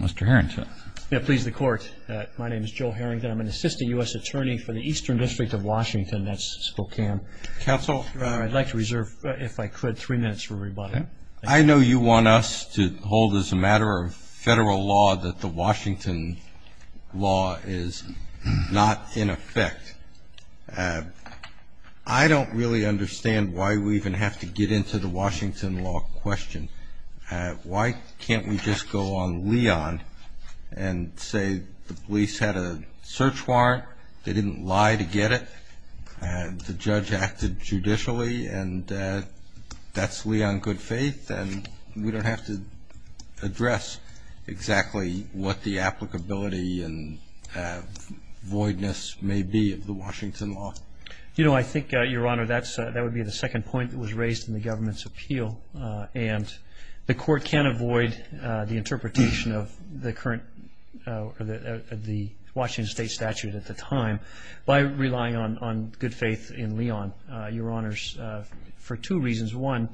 Mr. Harrington. Yeah, please, the Court. My name is Joe Harrington. I'm an assistant U.S. attorney for the Eastern District of Washington. That's Spokane. Counsel? I'd like to reserve, if I could, three minutes for everybody. Okay. I know you want us to hold as a matter of federal law that the Washington law is not in effect. I don't really understand why we even have to get into the Washington law question. Why can't we just go on Leon and say the police had a search warrant, they didn't lie to get it, the judge acted judicially, and that's Leon good faith, and we don't have to address exactly what the applicability and voidness may be of the Washington law. You know, I think, Your Honor, that would be the second point that was raised in the government's appeal. And the Court can't avoid the interpretation of the current or the Washington state statute at the time by relying on good faith in Leon, Your Honors, for two reasons. One,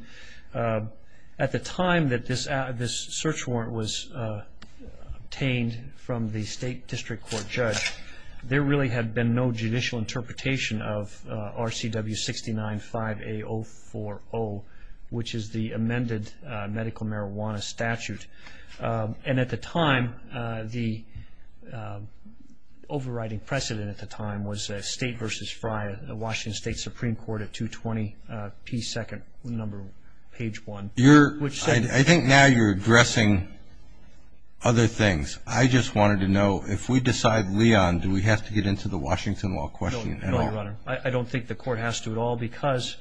at the time that this search warrant was obtained from the state district court judge, there really had been no judicial interpretation of RCW 69-5A-040, which is the amended medical marijuana statute. And at the time, the overriding precedent at the time was State v. Frye, the Washington State Supreme Court at 220 P. 2nd, page 1. I think now you're addressing other things. I just wanted to know, if we decide Leon, do we have to get into the Washington law question at all? No, Your Honor. I don't think the Court has to at all because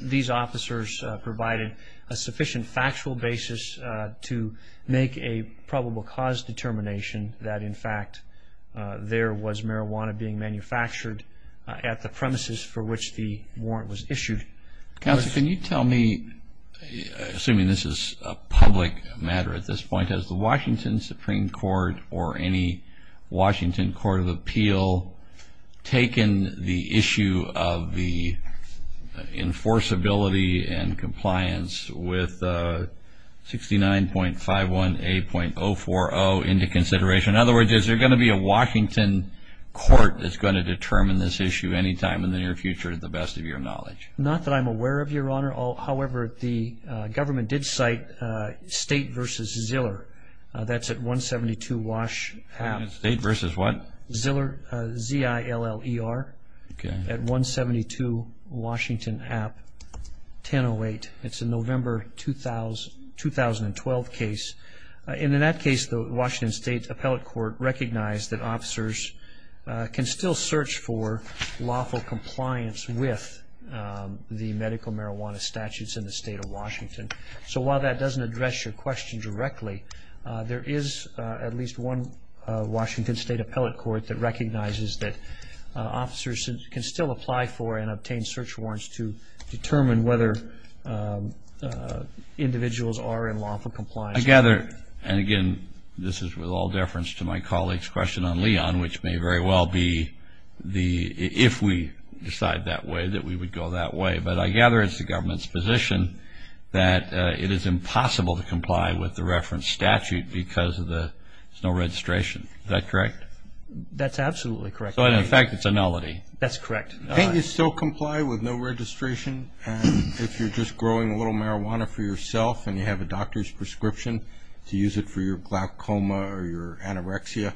these officers provided a sufficient factual basis to make a probable cause determination that, in fact, there was marijuana being manufactured at the premises for which the warrant was issued. Counsel, can you tell me, assuming this is a public matter at this point, has the Washington Supreme Court or any Washington court of appeal taken the issue of the enforceability and compliance with 69.51A.040 into consideration? In other words, is there going to be a Washington court that's going to determine this issue any time in the near future, to the best of your knowledge? Your Honor, however, the government did cite State v. Ziller. That's at 172 Wash. State v. what? Ziller, Z-I-L-L-E-R. Okay. At 172 Washington App, 1008. It's a November 2012 case. In that case, the Washington State Appellate Court recognized that officers can still search for lawful compliance with the medical marijuana statutes in the State of Washington. So while that doesn't address your question directly, there is at least one Washington State Appellate Court that recognizes that officers can still apply for and obtain search warrants to determine whether individuals are in lawful compliance. I gather, and again, this is with all deference to my colleague's question on Leon, which may very well be if we decide that way, that we would go that way. But I gather it's the government's position that it is impossible to comply with the reference statute because there's no registration. Is that correct? That's absolutely correct. So in effect, it's a nullity. That's correct. Can't you still comply with no registration if you're just growing a little marijuana for yourself and you have a doctor's prescription to use it for your glaucoma or your anorexia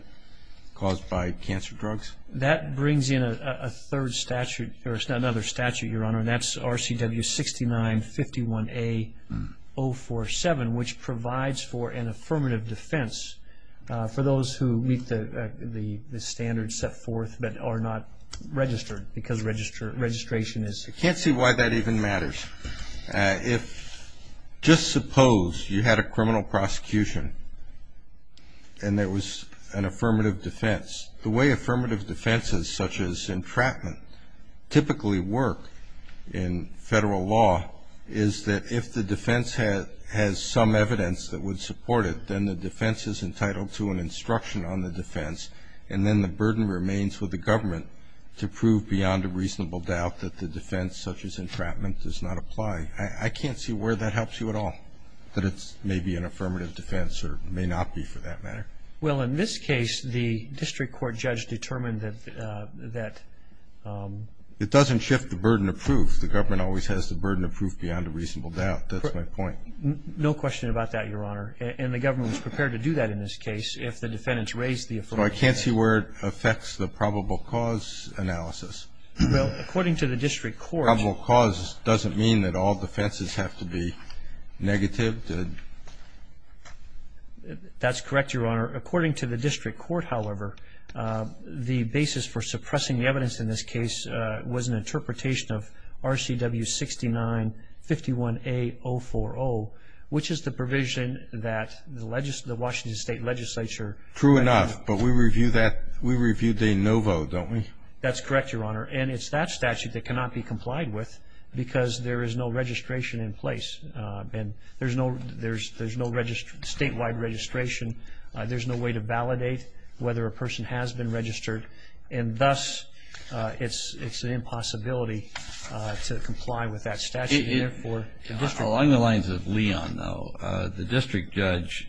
caused by cancer drugs? That brings in a third statute, or another statute, Your Honor, and that's RCW 6951A-047, which provides for an affirmative defense for those who meet the standards set forth but are not registered because registration is... I can't see why that even matters. If, just suppose, you had a criminal prosecution and there was an affirmative defense, the way affirmative defenses such as entrapment typically work in federal law is that if the defense has some evidence that would support it, then the defense is entitled to an instruction on the defense and then the burden remains with the government to prove beyond a reasonable doubt that the defense such as entrapment does not apply. I can't see where that helps you at all, that it may be an affirmative defense or may not be for that matter. Well, in this case, the district court judge determined that... It doesn't shift the burden of proof. The government always has the burden of proof beyond a reasonable doubt. That's my point. No question about that, Your Honor, and the government was prepared to do that in this case if the defendants raised the affirmative defense. I can't see where it affects the probable cause analysis. Well, according to the district court... Probable cause doesn't mean that all defenses have to be negative. That's correct, Your Honor. According to the district court, however, the basis for suppressing the evidence in this case was an interpretation of RCW 69-51A-040, which is the provision that the Washington State Legislature... True enough, but we review that. We review de novo, don't we? That's correct, Your Honor, and it's that statute that cannot be complied with because there is no registration in place. There's no statewide registration. There's no way to validate whether a person has been registered, and thus it's an impossibility to comply with that statute. Along the lines of Leon, though, the district judge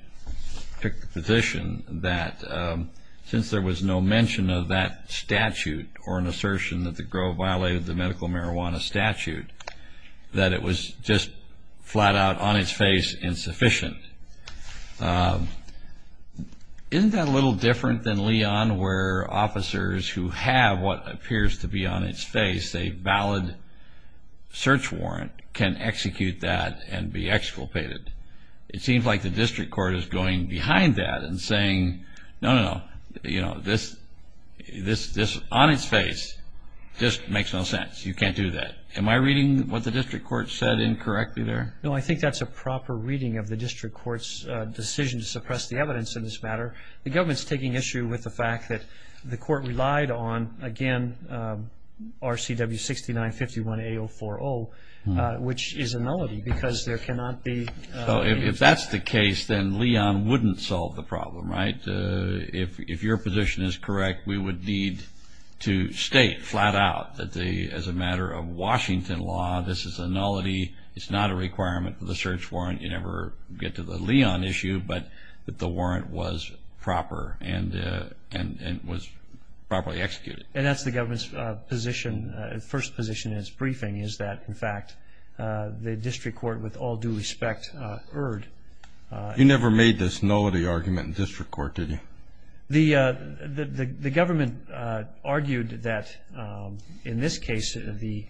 took the position that since there was no mention of that statute or an assertion that the grove violated the medical marijuana statute, that it was just flat out on its face insufficient. Isn't that a little different than Leon, where officers who have what appears to be on its face a valid search warrant can execute that and be exculpated? It seems like the district court is going behind that and saying, no, no, no, this on its face just makes no sense. You can't do that. Am I reading what the district court said incorrectly there? No, I think that's a proper reading of the district court's decision to suppress the evidence in this matter. The government is taking issue with the fact that the court relied on, again, RCW 6951A040, which is a nullity because there cannot be any of that. If that's the case, then Leon wouldn't solve the problem, right? If your position is correct, we would need to state flat out that as a matter of Washington law, this is a nullity. It's not a requirement for the search warrant. You never get to the Leon issue, but that the warrant was proper and was properly executed. And that's the government's first position in its briefing, is that, in fact, the district court, with all due respect, erred. You never made this nullity argument in district court, did you? The government argued that, in this case, the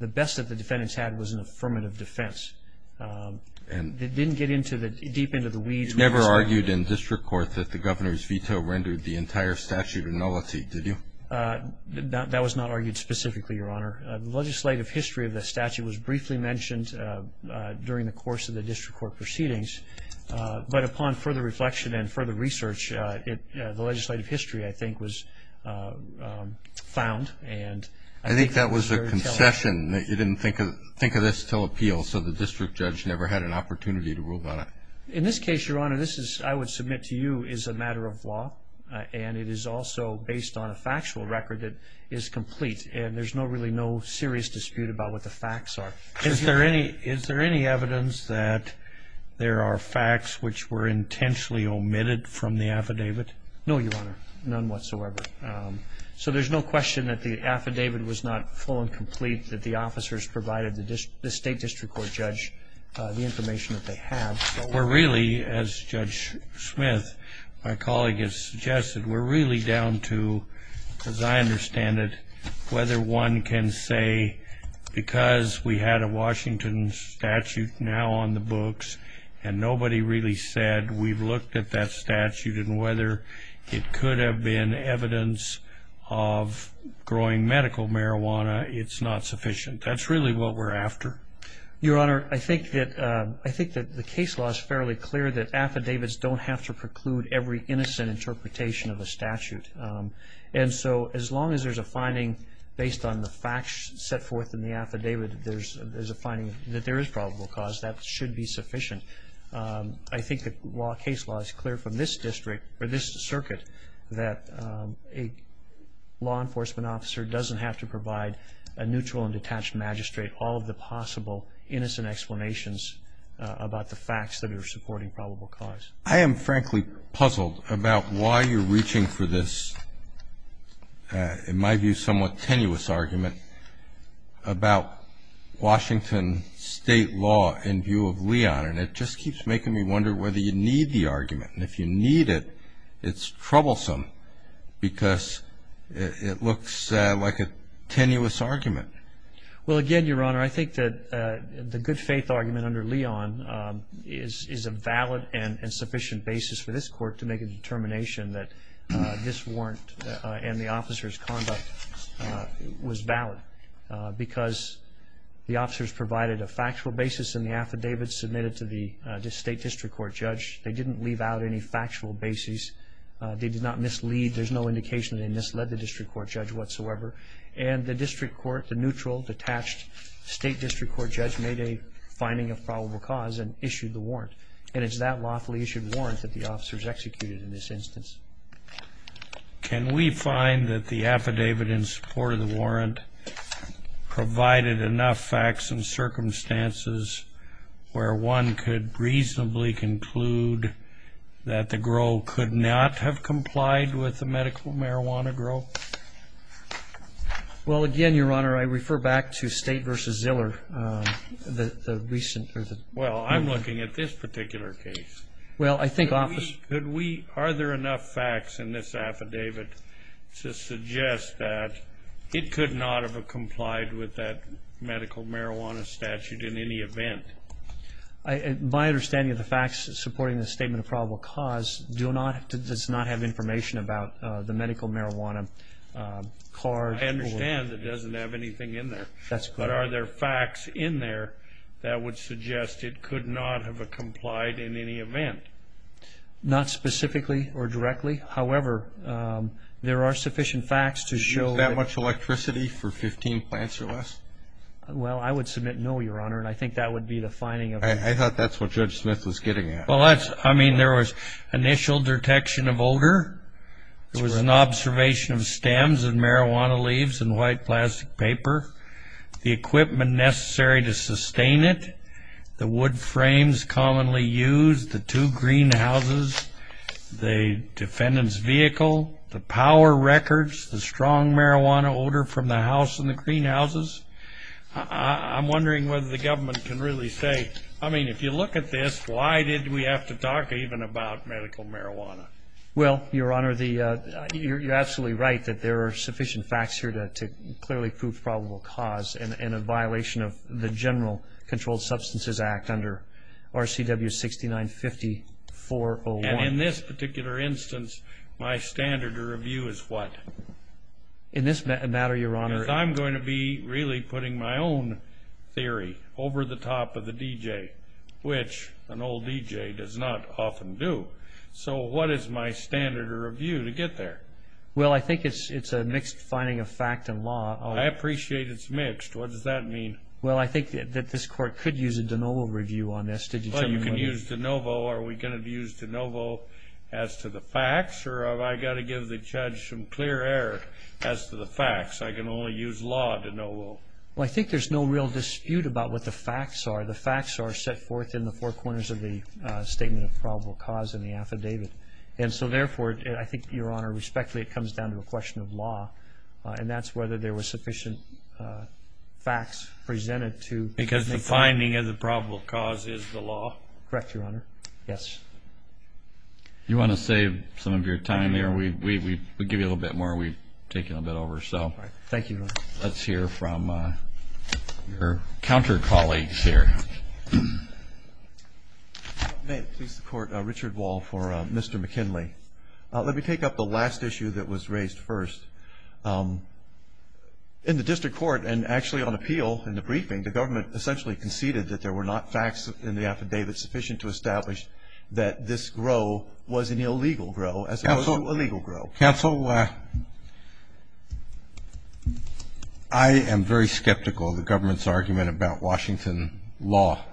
best that the defendants had was an affirmative defense. They didn't get deep into the weeds. You never argued in district court that the governor's veto rendered the entire statute a nullity, did you? That was not argued specifically, Your Honor. The legislative history of the statute was briefly mentioned during the course of the district court proceedings. But upon further reflection and further research, the legislative history, I think, was found. I think that was a concession. You didn't think of this until appeal, so the district judge never had an opportunity to rule about it. In this case, Your Honor, this is, I would submit to you, is a matter of law, and it is also based on a factual record that is complete, and there's really no serious dispute about what the facts are. Is there any evidence that there are facts which were intentionally omitted from the affidavit? No, Your Honor, none whatsoever. So there's no question that the affidavit was not full and complete, that the officers provided the state district court judge the information that they have. We're really, as Judge Smith, my colleague has suggested, we're really down to, as I understand it, whether one can say because we had a Washington statute now on the books and nobody really said we've looked at that statute and whether it could have been evidence of growing medical marijuana, it's not sufficient. That's really what we're after. Your Honor, I think that the case law is fairly clear that affidavits don't have to preclude every innocent interpretation of a statute. And so as long as there's a finding based on the facts set forth in the affidavit, there's a finding that there is probable cause, that should be sufficient. I think the case law is clear from this district, or this circuit, that a law enforcement officer doesn't have to provide a neutral and detached magistrate all of the possible innocent explanations about the facts that are supporting probable cause. I am frankly puzzled about why you're reaching for this, in my view, somewhat tenuous argument about Washington state law in view of Leon. And it just keeps making me wonder whether you need the argument. And if you need it, it's troublesome because it looks like a tenuous argument. Well, again, Your Honor, I think that the good faith argument under Leon is a valid and sufficient basis for this court to make a determination that this warrant and the officer's conduct was valid because the officers provided a factual basis in the affidavit submitted to the state district court judge. They didn't leave out any factual basis. They did not mislead. There's no indication they misled the district court judge whatsoever. And the district court, the neutral, detached state district court judge, made a finding of probable cause and issued the warrant. And it's that lawfully issued warrant that the officers executed in this instance. Can we find that the affidavit in support of the warrant provided enough facts and circumstances where one could reasonably conclude that the GRO could not have complied with the medical marijuana GRO? Well, again, Your Honor, I refer back to State v. Ziller. Well, I'm looking at this particular case. Are there enough facts in this affidavit to suggest that it could not have complied with that medical marijuana statute in any event? My understanding of the facts supporting the statement of probable cause does not have information about the medical marijuana card. I understand it doesn't have anything in there. That's correct. But are there facts in there that would suggest it could not have complied in any event? Not specifically or directly. However, there are sufficient facts to show that for 15 plants or less? Well, I would submit no, Your Honor, and I think that would be the finding. I thought that's what Judge Smith was getting at. Well, I mean, there was initial detection of odor. There was an observation of stems and marijuana leaves and white plastic paper. The equipment necessary to sustain it, the wood frames commonly used, the two greenhouses, the defendant's vehicle, the power records, the strong marijuana odor from the house and the greenhouses. I'm wondering whether the government can really say, I mean, if you look at this, why did we have to talk even about medical marijuana? Well, Your Honor, you're absolutely right that there are sufficient facts here to clearly prove probable cause in a violation of the General Controlled Substances Act under RCW 6950-401. And in this particular instance, my standard of review is what? In this matter, Your Honor. If I'm going to be really putting my own theory over the top of the DJ, which an old DJ does not often do, so what is my standard of review to get there? Well, I think it's a mixed finding of fact and law. I appreciate it's mixed. What does that mean? Well, I think that this Court could use a de novo review on this. Well, you can use de novo. Are we going to use de novo as to the facts, or have I got to give the judge some clear air as to the facts? I can only use law de novo. Well, I think there's no real dispute about what the facts are. The facts are set forth in the four corners of the statement of probable cause in the affidavit. And so, therefore, I think, Your Honor, respectfully, it comes down to a question of law, and that's whether there were sufficient facts presented to make the finding. Because the finding of the probable cause is the law. Correct, Your Honor. Yes. You want to save some of your time there? We'll give you a little bit more. We've taken a bit over. Thank you, Your Honor. Let's hear from your counter colleagues here. May it please the Court, Richard Wall for Mr. McKinley. Let me take up the last issue that was raised first. In the district court, and actually on appeal in the briefing, the government essentially conceded that there were not facts in the affidavit sufficient to establish that this grow was an illegal grow as opposed to a legal grow. Counsel, I am very skeptical of the government's argument about Washington law.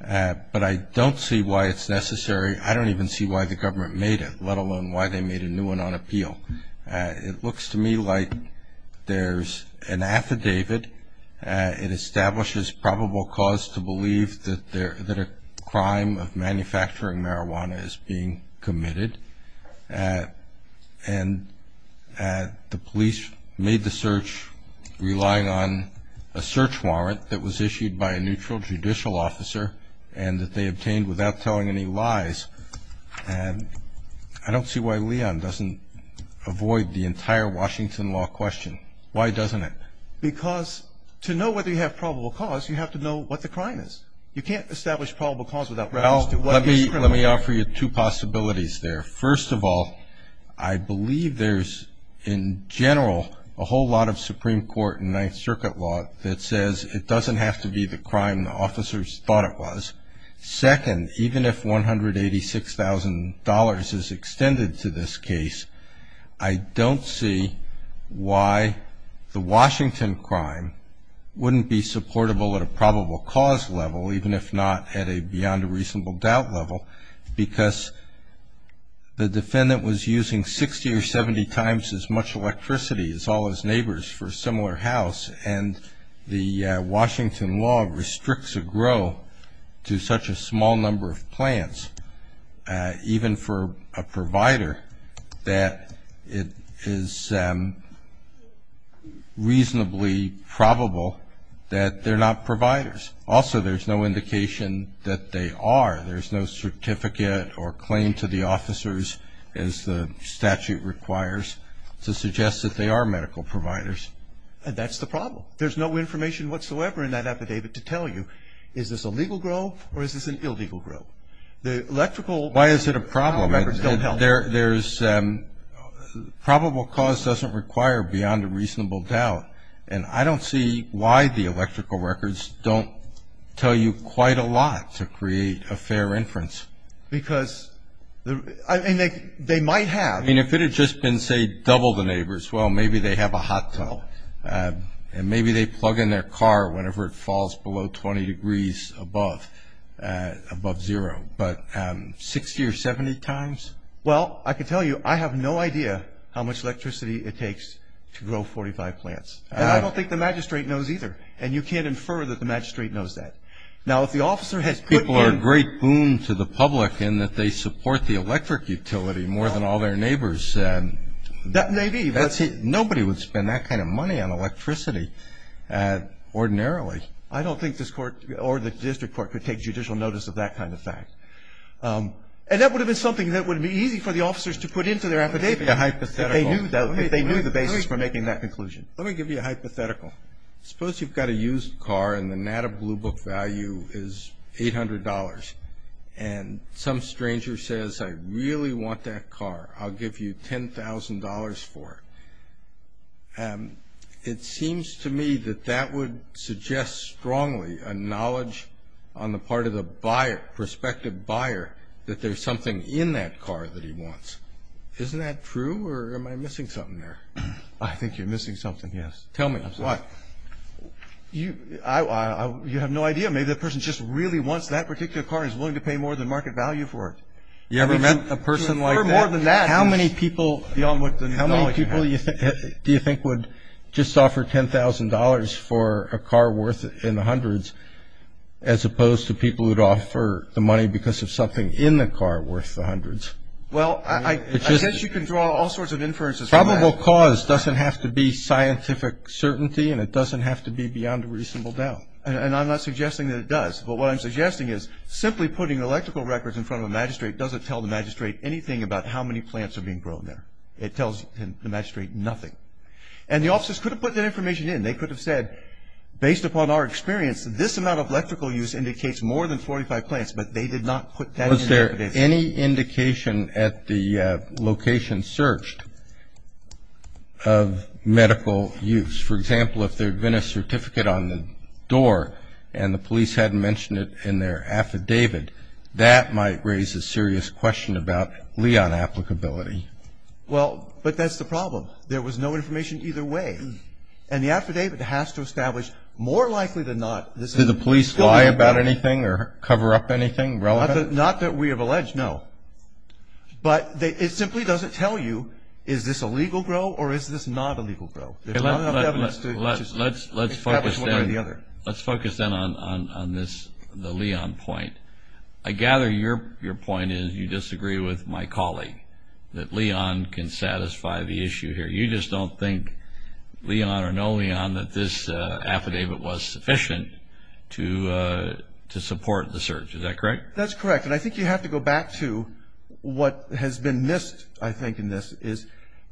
But I don't see why it's necessary. I don't even see why the government made it, let alone why they made a new one on appeal. It looks to me like there's an affidavit. It establishes probable cause to believe that a crime of manufacturing marijuana is being committed. And the police made the search relying on a search warrant that was issued by a neutral judicial officer and that they obtained without telling any lies. And I don't see why Leon doesn't avoid the entire Washington law question. Why doesn't it? Because to know whether you have probable cause, you have to know what the crime is. You can't establish probable cause without reference to what is criminal. Well, let me offer you two possibilities there. First of all, I believe there's, in general, a whole lot of Supreme Court and Ninth Circuit law that says it doesn't have to be the crime the officers thought it was. Second, even if $186,000 is extended to this case, I don't see why the Washington crime wouldn't be supportable at a probable cause level, even if not at a beyond a reasonable doubt level, because the defendant was using 60 or 70 times as much electricity as all his neighbors for a similar house, and the Washington law restricts a grow to such a small number of plants, even for a provider that it is reasonably probable that they're not providers. Also, there's no indication that they are. There's no certificate or claim to the officers, as the statute requires, to suggest that they are medical providers. And that's the problem. There's no information whatsoever in that affidavit to tell you is this a legal grow or is this an illegal grow. The electrical records don't help. Why is it a problem? There's probable cause doesn't require beyond a reasonable doubt, and I don't see why the electrical records don't tell you quite a lot to create a fair inference. Because they might have. I mean, if it had just been, say, double the neighbors, well, maybe they have a hot tub, and maybe they plug in their car whenever it falls below 20 degrees above zero, but 60 or 70 times? Well, I can tell you I have no idea how much electricity it takes to grow 45 plants. And I don't think the magistrate knows either. And you can't infer that the magistrate knows that. Now, if the officer has put in – People are a great boon to the public in that they support the electric utility more than all their neighbors. That may be. Nobody would spend that kind of money on electricity ordinarily. I don't think this court or the district court could take judicial notice of that kind of fact. And that would have been something that would have been easy for the officers to put into their affidavit. Let me give you a hypothetical. If they knew the basis for making that conclusion. Let me give you a hypothetical. Suppose you've got a used car, and the Nata Blue Book value is $800. And some stranger says, I really want that car. I'll give you $10,000 for it. It seems to me that that would suggest strongly a knowledge on the part of the buyer, prospective buyer, that there's something in that car that he wants. Isn't that true, or am I missing something there? I think you're missing something, yes. Tell me why. You have no idea. Maybe that person just really wants that particular car and is willing to pay more than market value for it. You ever met a person like that? How many people do you think would just offer $10,000 for a car worth in the hundreds, as opposed to people who'd offer the money because of something in the car worth the hundreds? Well, I guess you can draw all sorts of inferences from that. Probable cause doesn't have to be scientific certainty, and it doesn't have to be beyond a reasonable doubt. And I'm not suggesting that it does. But what I'm suggesting is simply putting electrical records in front of a magistrate doesn't tell the magistrate anything about how many plants are being grown there. It tells the magistrate nothing. And the officers could have put that information in. They could have said, based upon our experience, this amount of electrical use indicates more than 45 plants, but they did not put that in their affidavit. Was there any indication at the location searched of medical use? For example, if there had been a certificate on the door and the police hadn't mentioned it in their affidavit, that might raise a serious question about Leon applicability. Well, but that's the problem. There was no information either way. And the affidavit has to establish, more likely than not, this is an illegal growth. Did the police lie about anything or cover up anything relevant? Not that we have alleged, no. But it simply doesn't tell you, is this a legal grow or is this not a legal grow? Let's focus then on the Leon point. I gather your point is you disagree with my colleague that Leon can satisfy the issue here. You just don't think, Leon or no Leon, that this affidavit was sufficient to support the search. Is that correct? That's correct. And I think you have to go back to what has been missed, I think, in this, is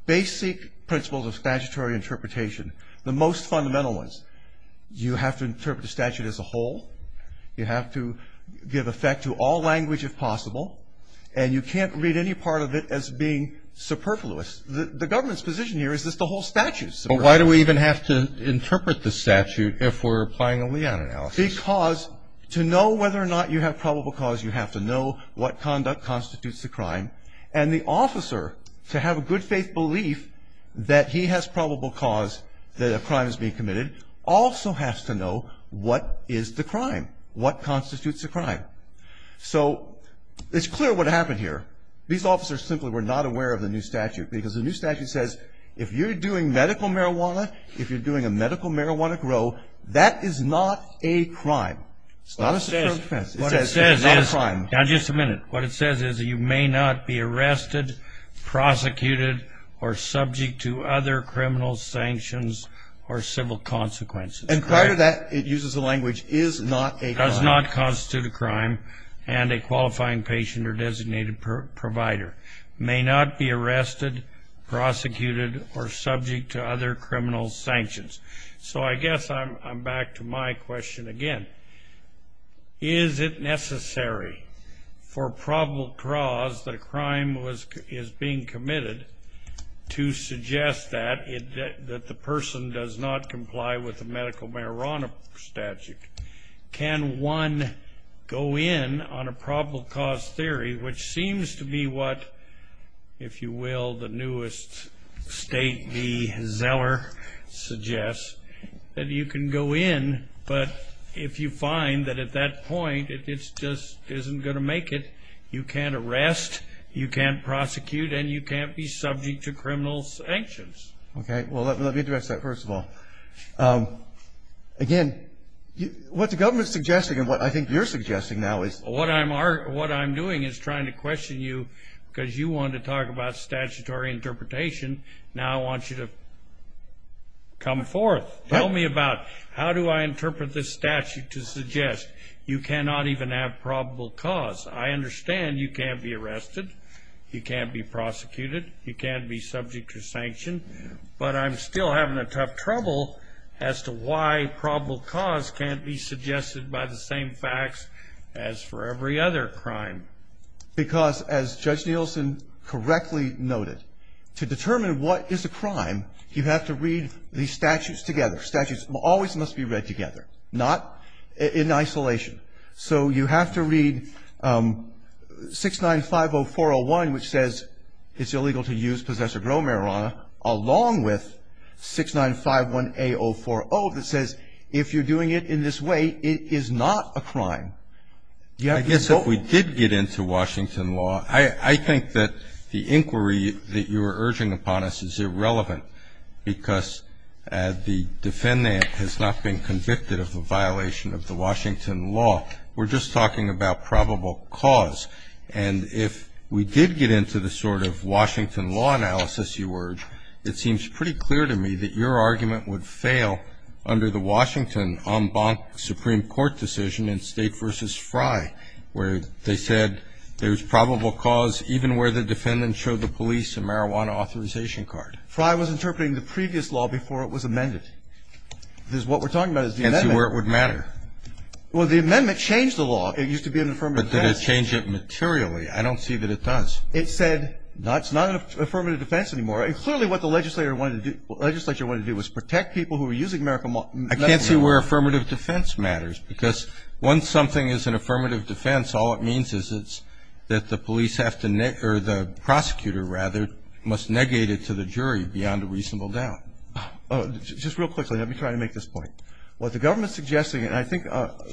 basic principles of statutory interpretation, the most fundamental ones. You have to interpret the statute as a whole. You have to give effect to all language if possible. And you can't read any part of it as being superfluous. The government's position here is this the whole statute. Well, why do we even have to interpret the statute if we're applying a Leon analysis? Because to know whether or not you have probable cause, you have to know what conduct constitutes the crime. And the officer, to have a good faith belief that he has probable cause that a crime is being committed, also has to know what is the crime, what constitutes the crime. So it's clear what happened here. These officers simply were not aware of the new statute because the new statute says if you're doing medical marijuana, if you're doing a medical marijuana grow, that is not a crime. It's not a security offense. It's not a crime. Now, just a minute. What it says is you may not be arrested, prosecuted, or subject to other criminal sanctions or civil consequences. And prior to that, it uses the language is not a crime. Does not constitute a crime and a qualifying patient or designated provider. May not be arrested, prosecuted, or subject to other criminal sanctions. So I guess I'm back to my question again. Is it necessary for probable cause that a crime is being committed to suggest that the person does not comply with the medical marijuana statute? Can one go in on a probable cause theory, which seems to be what, if you will, the newest state, the Zeller, suggests that you can go in, but if you find that at that point, it just isn't going to make it, you can't arrest, you can't prosecute, and you can't be subject to criminal sanctions. Okay. Well, let me address that first of all. Again, what the government is suggesting and what I think you're suggesting now is. What I'm doing is trying to question you because you wanted to talk about statutory interpretation. Now I want you to come forth. Tell me about how do I interpret this statute to suggest you cannot even have probable cause. I understand you can't be arrested, you can't be prosecuted, you can't be subject to sanction, but I'm still having a tough trouble as to why probable cause can't be suggested by the same facts as for every other crime. Because as Judge Nielsen correctly noted, to determine what is a crime, you have to read the statutes together. Statutes always must be read together, not in isolation. So you have to read 6950-401, which says it's illegal to use possessor-grown marijuana, along with 6951A-040 that says if you're doing it in this way, it is not a crime. I guess if we did get into Washington law, I think that the inquiry that you are urging upon us is irrelevant because the defendant has not been convicted of a violation of the Washington law. We're just talking about probable cause. And if we did get into the sort of Washington law analysis you urge, it seems pretty clear to me that your argument would fail under the Washington en banc Supreme Court decision in State v. Fry, where they said there's probable cause even where the defendant showed the police a marijuana authorization card. Fry was interpreting the previous law before it was amended. Because what we're talking about is the amendment. I can't see where it would matter. Well, the amendment changed the law. It used to be an affirmative defense. But did it change it materially? I don't see that it does. It said it's not an affirmative defense anymore. And clearly what the legislature wanted to do was protect people who were using medical marijuana. I can't see where affirmative defense matters. Because once something is an affirmative defense, all it means is it's that the police have to, or the prosecutor, rather, must negate it to the jury beyond a reasonable doubt. Just real quickly, let me try to make this point. What the government is suggesting, and I think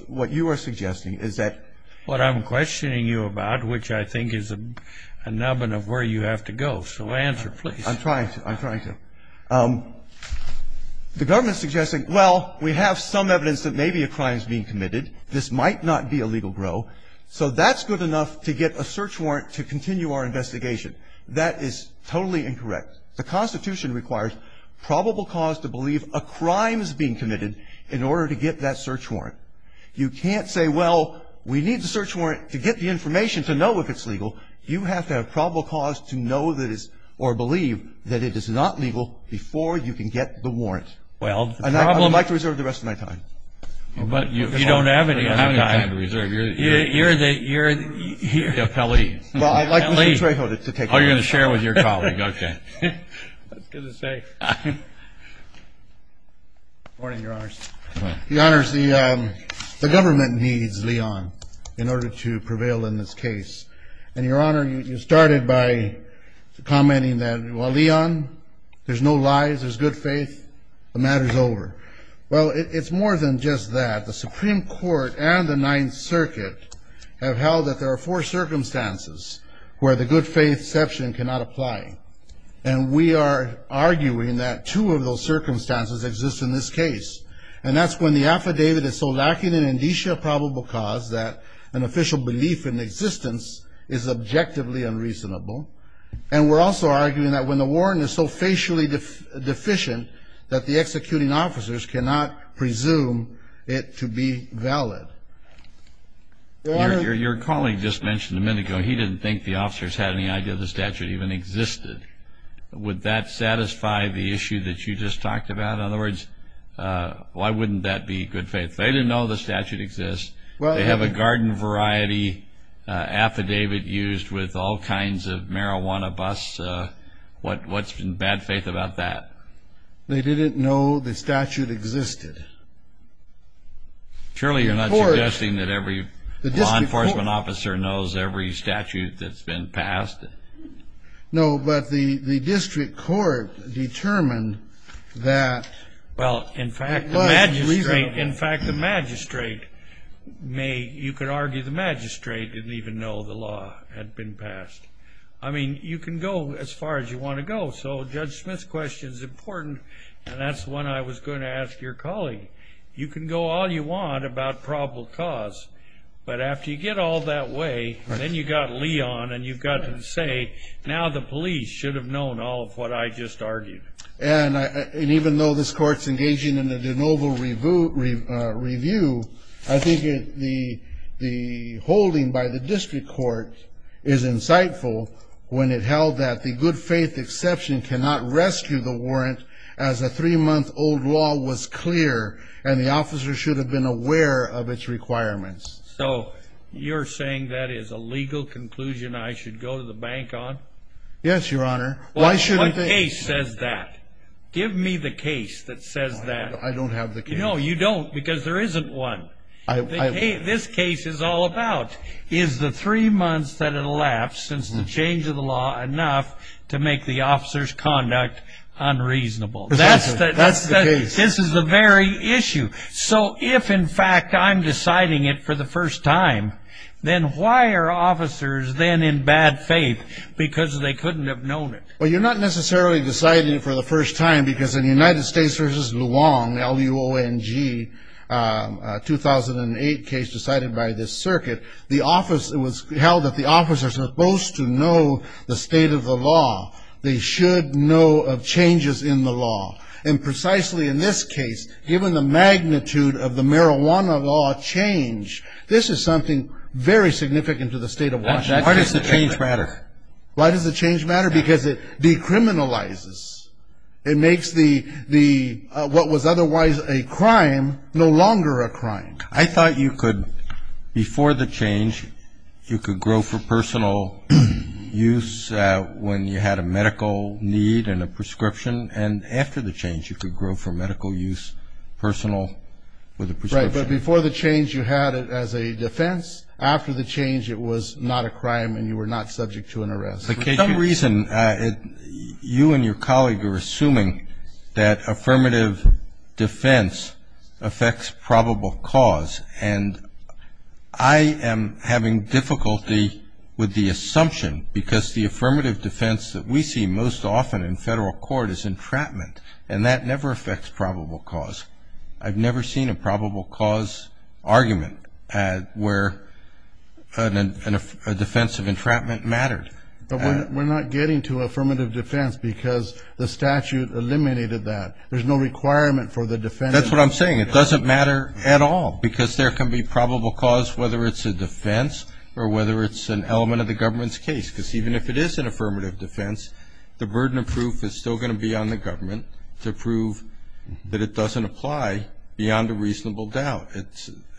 what you are suggesting is that ---- What I'm questioning you about, which I think is a nubbin of where you have to go. So answer, please. I'm trying to. I'm trying to. The government is suggesting, well, we have some evidence that maybe a crime is being committed. This might not be a legal grow. So that's good enough to get a search warrant to continue our investigation. That is totally incorrect. The Constitution requires probable cause to believe a crime is being committed in order to get that search warrant. You can't say, well, we need the search warrant to get the information to know if it's legal. You have to have probable cause to know that it is or believe that it is not legal before you can get the warrant. Well, the problem ---- And I would like to reserve the rest of my time. But you don't have any other time. You don't have any time to reserve. You're the appellee. Well, I'd like Mr. Trejo to take over. Oh, you're going to share with your colleague. Okay. That's good to say. Good morning, Your Honors. Your Honors, the government needs Leon in order to prevail in this case. And, Your Honor, you started by commenting that, well, Leon, there's no lies, there's good faith, the matter's over. Well, it's more than just that. The Supreme Court and the Ninth Circuit have held that there are four circumstances where the good faith section cannot apply. And we are arguing that two of those circumstances exist in this case. And that's when the affidavit is so lacking in indicia of probable cause that an official belief in existence is objectively unreasonable. And we're also arguing that when the warrant is so facially deficient that the executing officers cannot presume it to be valid. Your colleague just mentioned a minute ago he didn't think the officers had any idea the statute even existed. Would that satisfy the issue that you just talked about? In other words, why wouldn't that be good faith? They didn't know the statute exists. They have a garden variety affidavit used with all kinds of marijuana busts. What's in bad faith about that? They didn't know the statute existed. Surely you're not suggesting that every law enforcement officer knows every statute that's been passed? No, but the district court determined that it was reasonable. Well, in fact, the magistrate may, you could argue the magistrate didn't even know the law had been passed. I mean, you can go as far as you want to go. So Judge Smith's question is important, and that's the one I was going to ask your colleague. You can go all you want about probable cause, but after you get all that way, then you've got Leon and you've got to say, now the police should have known all of what I just argued. And even though this court's engaging in a de novo review, I think the holding by the district court is insightful when it held that the good faith exception cannot rescue the warrant as a three-month-old law was clear and the officer should have been aware of its requirements. So you're saying that is a legal conclusion I should go to the bank on? Yes, Your Honor. Well, what case says that? Give me the case that says that. I don't have the case. No, you don't, because there isn't one. This case is all about, is the three months that elapsed since the change of the law enough to make the officer's conduct unreasonable? That's the case. This is the very issue. So if, in fact, I'm deciding it for the first time, then why are officers then in bad faith because they couldn't have known it? Well, you're not necessarily deciding it for the first time, because in the United States v. Luong, L-U-O-N-G, a 2008 case decided by this circuit, it was held that the officers are supposed to know the state of the law. They should know of changes in the law. And precisely in this case, given the magnitude of the marijuana law change, this is something very significant to the state of Washington. Why does the change matter? Why does the change matter? Because it decriminalizes. It makes what was otherwise a crime no longer a crime. I thought you could, before the change, you could grow for personal use when you had a medical need and a prescription, and after the change you could grow for medical use, personal with a prescription. Right, but before the change you had it as a defense. After the change it was not a crime and you were not subject to an arrest. For some reason, you and your colleague are assuming that affirmative defense affects probable cause, and I am having difficulty with the assumption because the affirmative defense that we see most often in federal court is entrapment, and that never affects probable cause. I've never seen a probable cause argument where a defense of entrapment mattered. But we're not getting to affirmative defense because the statute eliminated that. There's no requirement for the defense. That's what I'm saying. It doesn't matter at all because there can be probable cause, whether it's a defense or whether it's an element of the government's case, because even if it is an affirmative defense, the burden of proof is still going to be on the government to prove that it doesn't apply beyond a reasonable doubt.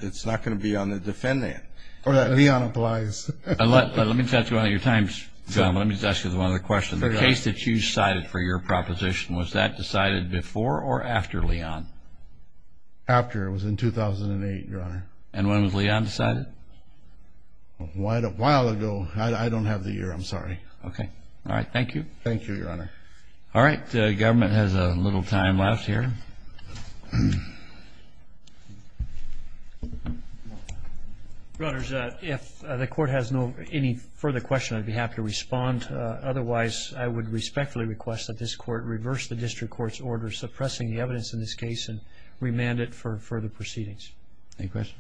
It's not going to be on the defendant. Or that Leon applies. Let me touch on your time, John. Let me just ask you one other question. The case that you cited for your proposition, was that decided before or after Leon? After. It was in 2008, Your Honor. And when was Leon decided? A while ago. I don't have the year. I'm sorry. Okay. All right. Thank you. Thank you, Your Honor. All right. The government has a little time left here. Your Honors, if the court has any further questions, I'd be happy to respond. Otherwise, I would respectfully request that this court reverse the district court's order suppressing the evidence in this case and remand it for further proceedings. Any questions?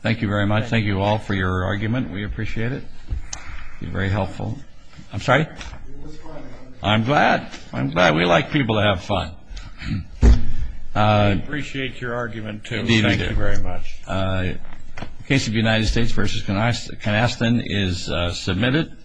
Thank you very much. Thank you all for your argument. We appreciate it. It would be very helpful. I'm sorry? I'm glad. I'm glad. We like people to have fun. We appreciate your argument, too. Thank you very much. Indeed we do. The case of the United States v. Canaston is submitted.